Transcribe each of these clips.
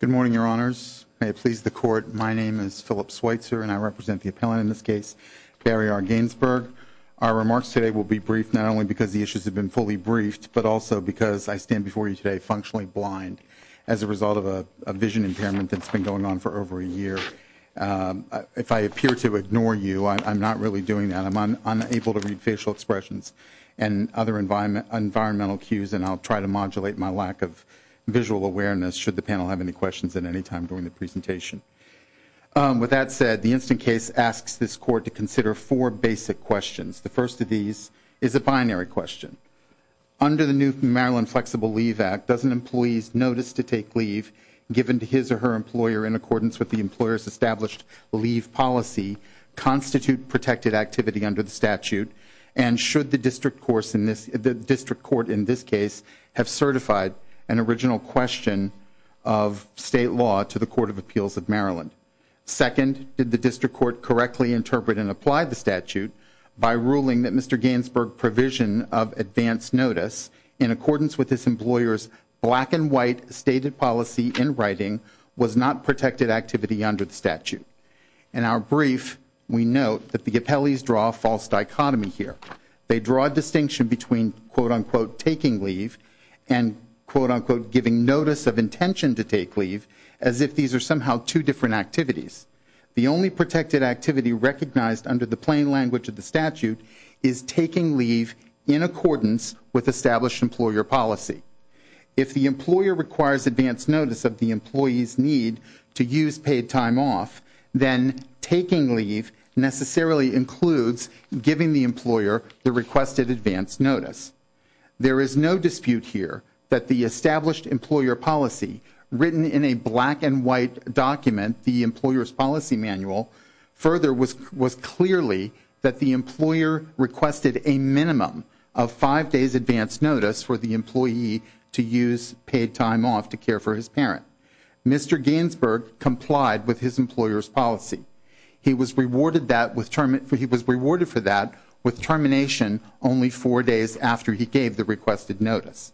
Good morning, Your Honors. May it please the Court, my name is Philip Switzer, and I represent the appellant in this case, Barry R. Gainsburg. Our remarks today will be briefed not only because the issues have been fully briefed, but also because I stand before you today functionally blind as a result of a vision impairment that's been going on for over a year. If I appear to ignore you, I'm not really doing that. I'm unable to read facial visual awareness, should the panel have any questions at any time during the presentation. With that said, the instant case asks this Court to consider four basic questions. The first of these is a binary question. Under the new Maryland Flexible Leave Act, does an employee's notice to take leave given to his or her employer in accordance with the employer's established leave policy constitute protected activity under the statute? And should the district court in this case have certified an original question of state law to the Court of Appeals of Maryland? Second, did the district court correctly interpret and apply the statute by ruling that Mr. Gainsburg's provision of advance notice in accordance with his employer's black and white stated policy in writing was not protected activity under the statute? In our brief, we note that the appellees draw a false dichotomy here. They draw a distinction between, quote, unquote, taking leave and, quote, unquote, giving notice of intention to take leave as if these are somehow two different activities. The only protected activity recognized under the plain language of the statute is taking leave in accordance with established employer policy. If the employer requires advance notice of the employee's need to use paid time off, then taking leave necessarily includes giving the employer the requested advance notice. There is no dispute here that the established employer policy written in a black and white document, the employer's policy manual, further was clearly that the employer requested a minimum of five days advance notice for the current. Mr. Gainsburg complied with his employer's policy. He was rewarded for that with termination only four days after he gave the requested notice.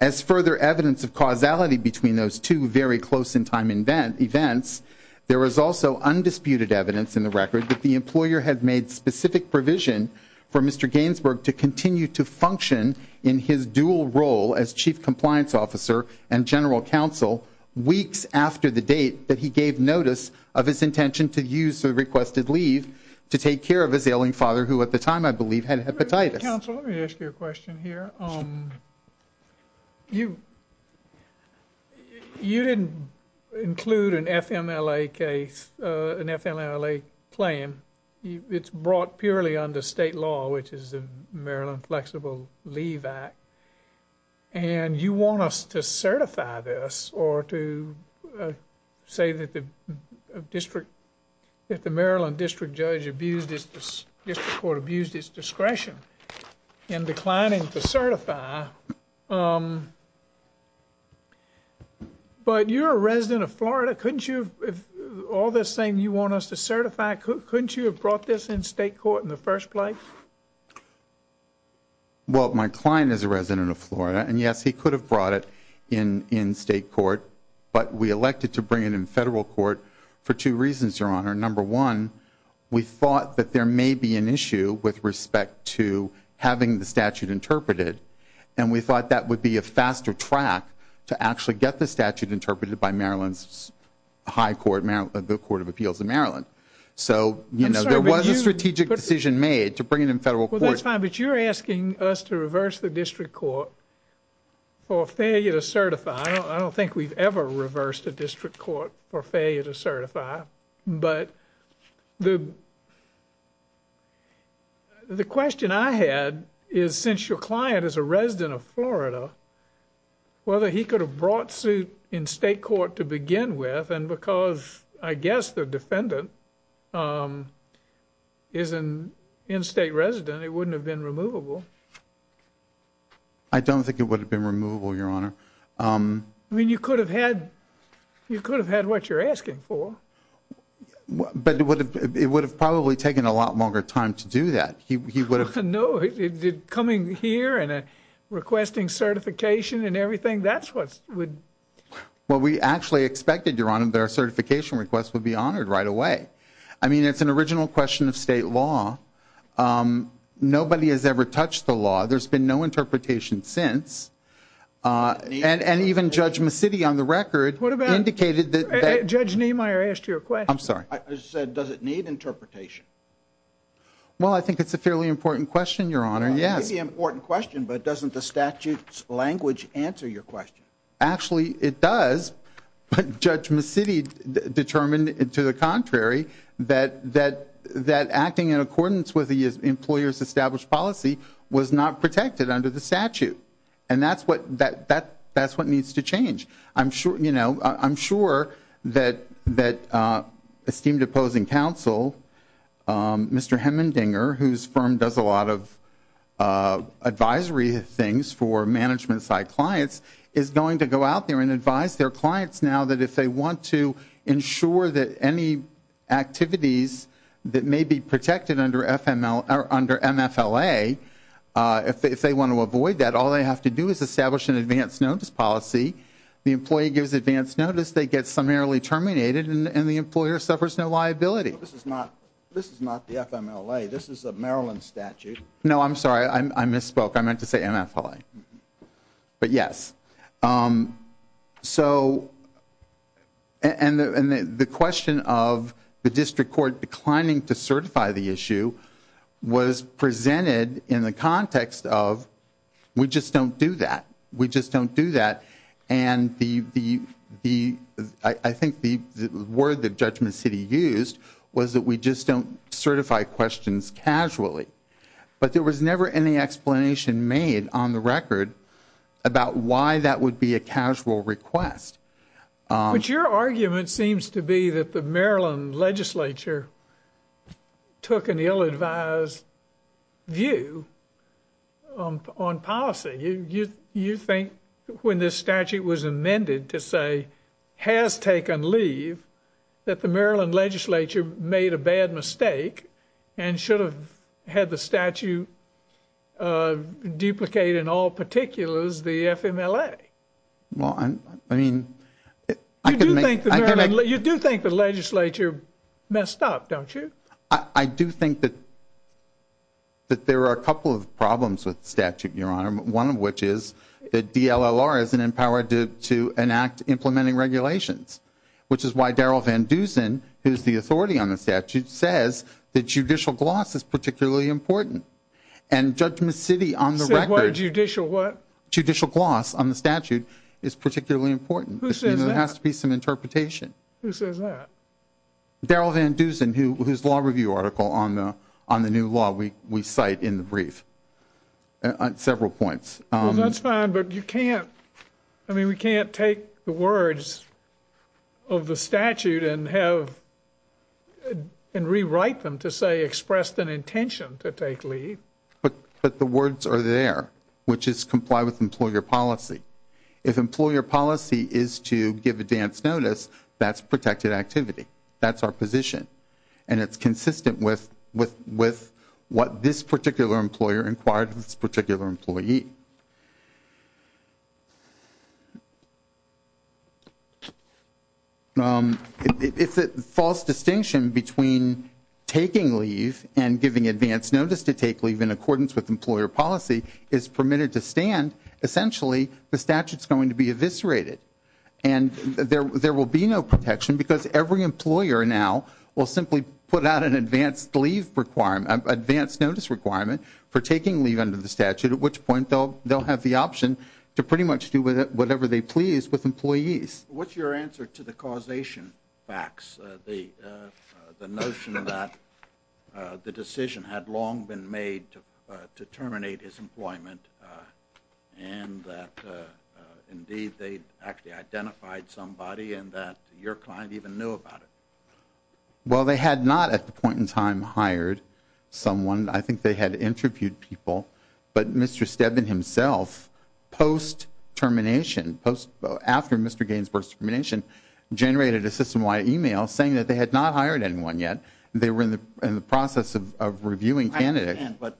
As further evidence of causality between those two very close in time events, there is also undisputed evidence in the record that the employer had made specific provision for Mr. Gainsburg to continue to function in his dual role as chief compliance officer and general counsel weeks after the date that he gave notice of his intention to use the requested leave to take care of his ailing father who at the time, I believe, had hepatitis. Let me ask you a question here. You didn't include an FMLA case, an FMLA plan. It's brought purely under state law, which is the Maryland Flexible Leave Act, and you want us to certify this or to say that the Maryland District Court abused its discretion in declining to certify, but you're a resident of Florida. Couldn't you, all this saying you want us to certify, couldn't you have brought this in state court in the first place? Well, my client is a resident of Florida, and yes, he could have brought it in state court, but we elected to bring it in federal court for two reasons, Your Honor. Number one, we thought that there may be an issue with respect to having the statute interpreted, and we thought that would be a faster track to actually get the statute interpreted by the Court of Appeals in Maryland. So, you know, there was a strategic decision made to bring it in federal court. Well, that's fine, but you're asking us to reverse the District Court for failure to certify. I don't think we've ever reversed a District Court for failure to certify, but the question I had is, since your client is a resident of Florida, whether he could have brought suit in state court to begin with, and because, I guess, the defendant is an in-state resident, it wouldn't have been removable. I don't think it would have been removable, Your Honor. I mean, you could have had what you're asking for. But it would have probably taken a lot longer time to do that. He would have... No. Coming here and requesting certification and everything, that's what would... Well, we actually expected, Your Honor, that our certification request would be honored right away. I mean, it's an original question of state law. Nobody has ever touched the law. There's been no interpretation since. And even Judge McCity, on the record, indicated that... Judge Niemeyer asked you a question. I'm sorry. I just said, does it need interpretation? Well, I think it's a fairly important question, Your Honor. Yes. It may be an important question, but doesn't the statute's language answer your question? Actually, it does. But Judge McCity determined, to the contrary, that acting in accordance with the employer's established policy was not protected under the statute. And that's what needs to change. I'm sure that esteemed opposing counsel, I'm sure that the statute Mr. Hemendinger, whose firm does a lot of advisory things for management side clients, is going to go out there and advise their clients now that if they want to ensure that any activities that may be protected under MFLA, if they want to avoid that, all they have to do is establish an advance notice policy. The employee gives advance notice, they get summarily terminated, and the employer suffers no liability. This is not the FMLA. This is a Maryland statute. No, I'm sorry. I misspoke. I meant to say MFLA. But yes. And the question of the District Court declining to certify the issue was presented in the context of, we just don't do that. We just don't do that. And I think the word that Judge McCity used was, we just don't certify questions casually. But there was never any explanation made on the record about why that would be a casual request. But your argument seems to be that the Maryland legislature took an ill-advised view on policy. You think when this statute was amended to say, has taken leave, that the Maryland legislature made a bad mistake and should have had the statute duplicate in all particulars the FMLA? Well, I mean, I could make... You do think the legislature messed up, don't you? I do think that there are a couple of problems with the statute, Your Honor, one of which is that DLLR isn't empowered to enact implementing regulations, which is why Darrell Van Dusen, who's the authority on the statute, says that judicial gloss is particularly important. And Judge McCity on the record... Said what? Judicial what? Judicial gloss on the statute is particularly important. Who says that? I mean, there has to be some interpretation. Who says that? Darrell Van Dusen, whose law review article on the new law we cite in the brief. Several points. That's fine, but you can't... I mean, we can't take the words of the statute and have... And rewrite them to say expressed an intention to take leave. But the words are there, which is comply with employer policy. If employer policy is to give advance notice, that's protected activity. That's our position. And it's consistent with what this particular employer inquired of this particular employee. If a false distinction between taking leave and giving advance notice to take leave in accordance with employer policy is permitted to stand, essentially, the statute's going to be eviscerated. And there will be no protection because every employer now will simply put out an advance leave requirement, advance notice requirement for taking leave under the statute, at which point they'll have the option to pretty much do whatever they please with employees. What's your answer to the causation facts? The notion that the decision had long been made to terminate his employment and that indeed they actually identified somebody and that your client even knew about it? Well, they had not at the point in time hired someone. I think they had interviewed people. But Mr. Stebbin himself, post-termination, after Mr. Gaines' post-termination, generated a system-wide email saying that they had not hired anyone yet. They were in the process of reviewing candidates. But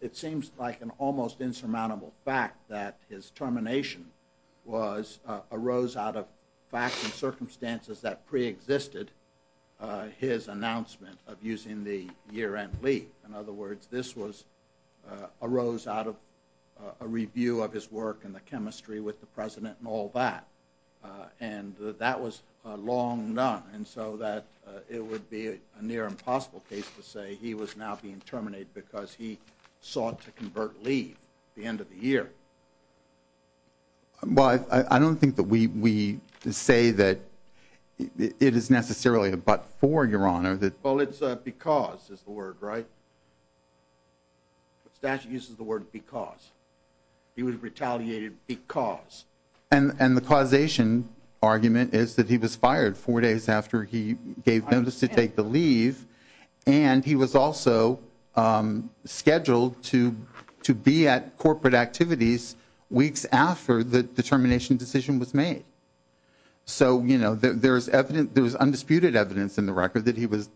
it seems like an almost insurmountable fact that his termination arose out of facts and circumstances that preexisted his announcement of using the year-end leave. In other words, this arose out of a review of his work in the chemistry with the president and all that. And that was long done. And so that it would be a near-impossible case to say he was now being terminated because he sought to convert leave at the end of the year. Well, I don't think that we say that it is necessarily a but-for, Your Honor. Well, it's a because is the word, right? Statute uses the word because. He was retaliated because. And the causation argument is that he was fired four days after he gave notice to take the leave. And he was also scheduled to be at corporate activities weeks after the termination decision was made. So there was undisputed evidence in the record that he was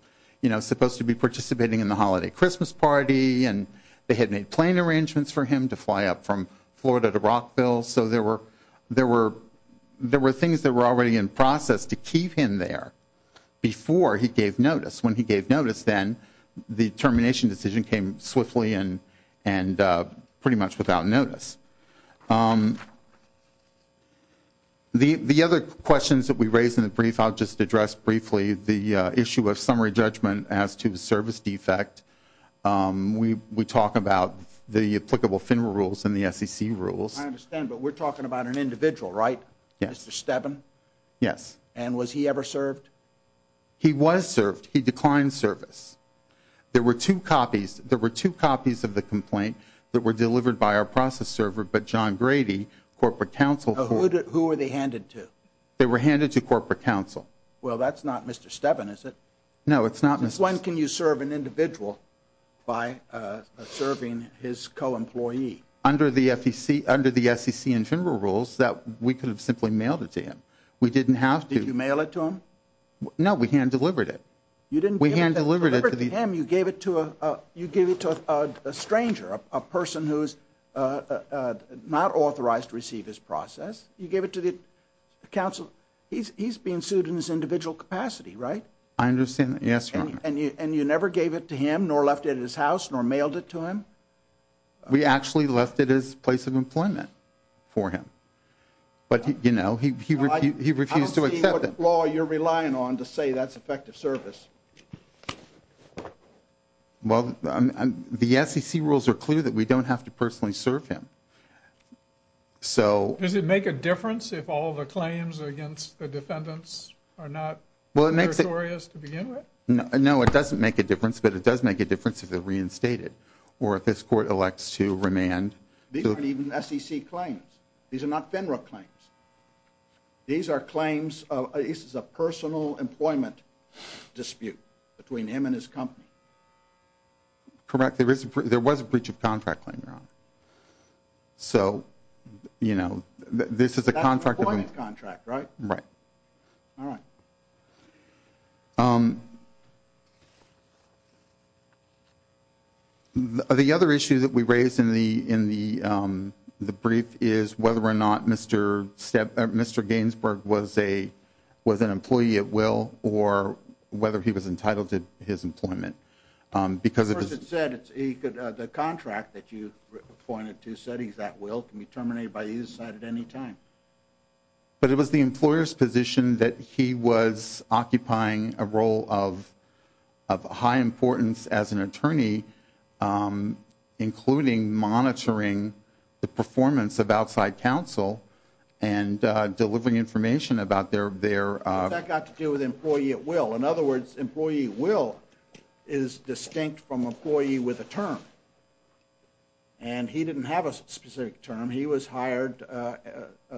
supposed to be participating in the holiday Christmas party. And they had made plane arrangements for him to fly up from Florida to Rockville. So there were things that were already in process to keep him there before he gave notice. When he gave notice then, the termination decision came swiftly and pretty much without notice. The other questions that we raised in the brief, I'll just address briefly the issue of summary judgment as to the service defect. We talk about the applicable FINRA rules and the SEC rules. I understand, but we're talking about an individual, right? Mr. Stebbin? Yes. And was he ever served? He was served. He declined service. There were two copies. There were two copies of the complaint that were delivered by our process server. But John Grady, Corporate Counsel. Who were they handed to? They were handed to Corporate Counsel. Well, that's not Mr. Stebbin, is it? No, it's not. When can you serve an individual by serving his co-employee? Under the SEC and FINRA rules, we could have simply mailed it to him. We didn't have to. Did you mail it to him? No, we hand-delivered it. You didn't hand-deliver it to him, you gave it to a stranger, a person who's not authorized to receive his process. You gave it to the counsel. He's being sued in his individual capacity, right? I understand that, yes, Your Honor. And you never gave it to him, nor left it at his house, nor mailed it to him? We actually left it at his place of employment for him. But, you know, he refused to accept it. I don't see what law you're relying on to say that's effective service. Well, the SEC rules are clear that we don't have to personally serve him. So... Does it make a difference if all the claims against the defendants are not meritorious to begin with? No, it doesn't make a difference. But it does make a difference if they're reinstated, or if this court elects to remand. These aren't even SEC claims. These are not FINRA claims. These are claims of... This is a personal employment dispute between him and his company. Correct, there was a breach of contract claim, Your Honor. So, you know, this is a contract... That's an employment contract, right? Right. All right. So... The other issue that we raised in the brief is whether or not Mr. Gainsbourg was an employee at will, or whether he was entitled to his employment. Because it was... First, it said the contract that you pointed to said he's at will, can be terminated by either side at any time. But it was the employer's position that he was occupying a role of high importance as an attorney, including monitoring the performance of outside counsel and delivering information about their... What's that got to do with employee at will? In other words, employee at will is distinct from employee with a term. And he didn't have a specific term. He was hired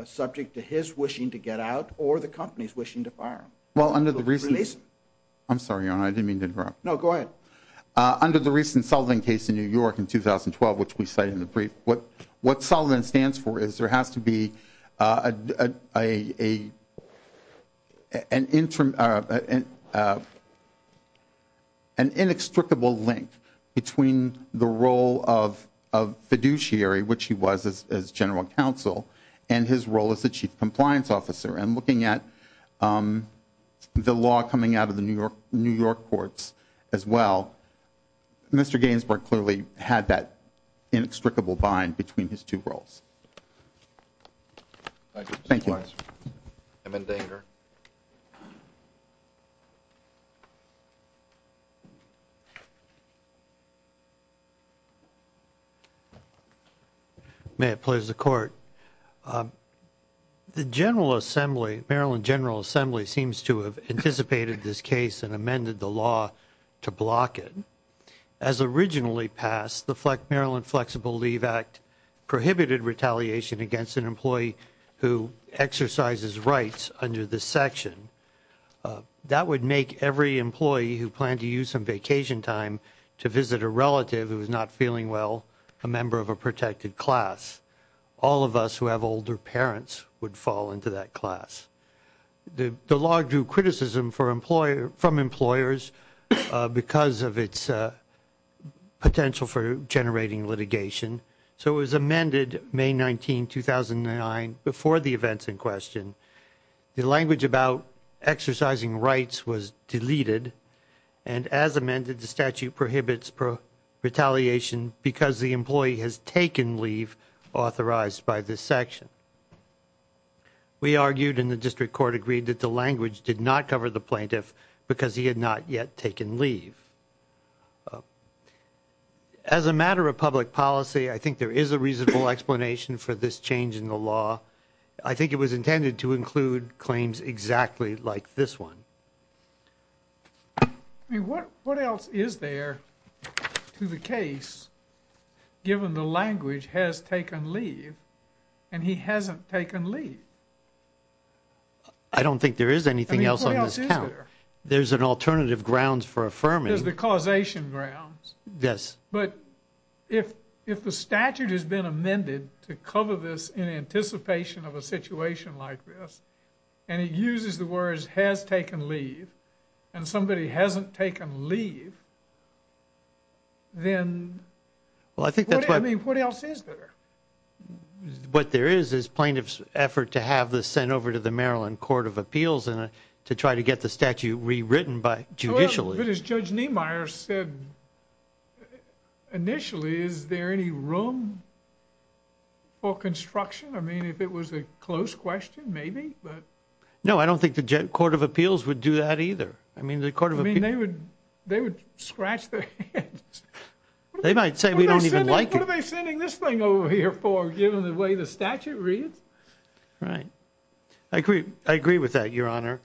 subject to his wishing to get out, or the company's wishing to fire him. Well, under the recent... Release him. I'm sorry, Your Honor, I didn't mean to interrupt. No, go ahead. Under the recent Sullivan case in New York in 2012, which we cite in the brief, what Sullivan stands for is there has to be an inextricable link between the role of fiduciary, which he was as general counsel, and his role as the chief compliance officer. And looking at the law coming out of the New York courts as well, Mr. Gainsbourg clearly had that inextricable bind between his two roles. Thank you. May it please the court. The General Assembly, Maryland General Assembly, seems to have anticipated this case and amended the law to block it. As originally passed, the Maryland Flexible Leave Act prohibited retaliation against an employee who exercises rights under this section. That would make every employee who planned to use some vacation time to visit a relative who was not feeling well a member of a protected class. All of us who have older parents would fall into that class. The law drew criticism from employers because of its potential for generating litigation. So it was amended May 19, 2009, before the events in question. The language about exercising rights was deleted. And as amended, the statute prohibits retaliation because the employee has taken leave authorized by this section. We argued in the district court agreed that the language did not cover the plaintiff because he had not yet taken leave. As a matter of public policy, I think there is a reasonable explanation for this change in the law. I think it was intended to include claims exactly like this one. I mean, what else is there to the case given the language has taken leave and he hasn't taken leave? I don't think there is anything else on this count. There's an alternative grounds for affirming. There's the causation grounds. Yes. But if the statute has been amended to cover this in anticipation of a situation like this and it uses the words has taken leave and somebody hasn't taken leave. Then well, I think that's what I mean. What else is there? What there is is plaintiff's effort to have this sent over to the Maryland Court of Appeals and to try to get the statute rewritten by judicially. But as Judge Niemeyer said initially, is there any room for construction? I mean, if it was a close question, maybe, but no, I don't think the Court of Appeals would do that either. I mean, the Court of they would they would scratch their heads. They might say we don't even like what are they sending this thing over here for given the way the statute reads, right? I agree. I agree with that, Your Honor.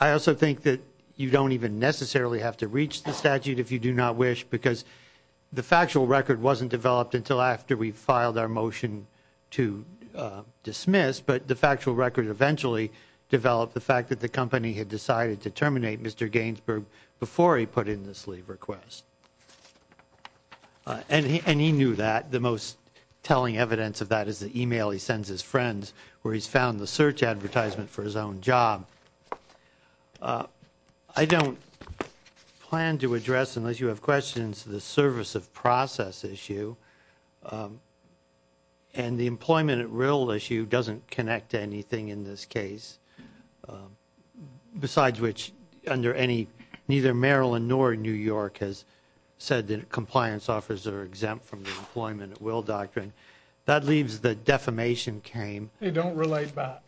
I also think that you don't even necessarily have to reach the statute if you do not wish because the factual record wasn't developed until after we filed our motion to dismiss, but the factual record eventually developed the fact that the company had decided to terminate Mr. Gainsbourg before he put in this leave request. And he knew that the most telling evidence of that is the email he sends his friends where he's found the search advertisement for his own job. I don't plan to address, unless you have questions, the service of process issue. And the employment at will issue doesn't connect to anything in this case, besides which under any neither Maryland nor New York has said that compliance offers are exempt from the employment at will doctrine. That leaves the defamation came. They don't relate back.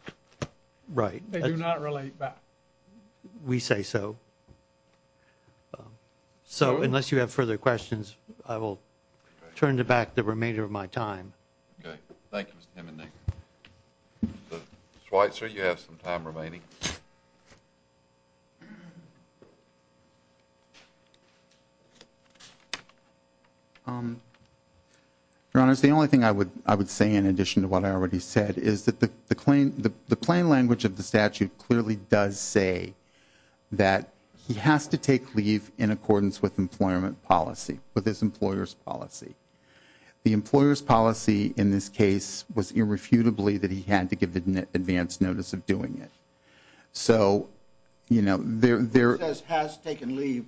Right. They do not relate back. We say so. So, unless you have further questions, I will turn it back the remainder of my time. Okay. Thank you, Mr. Hemming. Mr. Schweitzer, you have some time remaining. Your Honor, it's the only thing I would say in addition to what I already said is that the plain language of the statute clearly does say that he has to take leave in accordance with employment policy, with his employer's policy. The employer's policy in this case was irrefutably that he had to give the advanced notice of doing it. So, you know, there has taken leave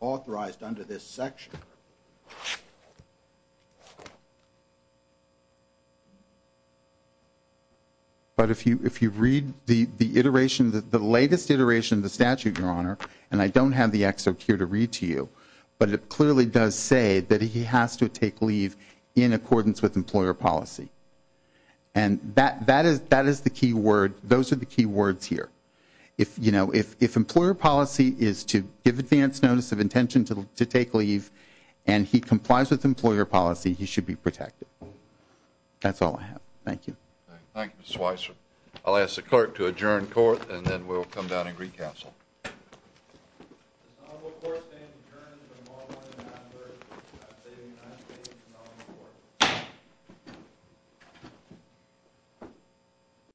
authorized under this section. But if you read the iteration, the latest iteration of the statute, Your Honor, and I don't have the excerpt here to read to you, but it clearly does say that he has to take leave in accordance with employer policy. And that is the key word. Those are the key words here. If, you know, if employer policy is to give advance notice of intention to take leave and he complies with employer policy, he should be protected. That's all I have. Thank you. Thank you, Mr. Weiss. I'll ask the clerk to adjourn court and then we'll come down and recouncil.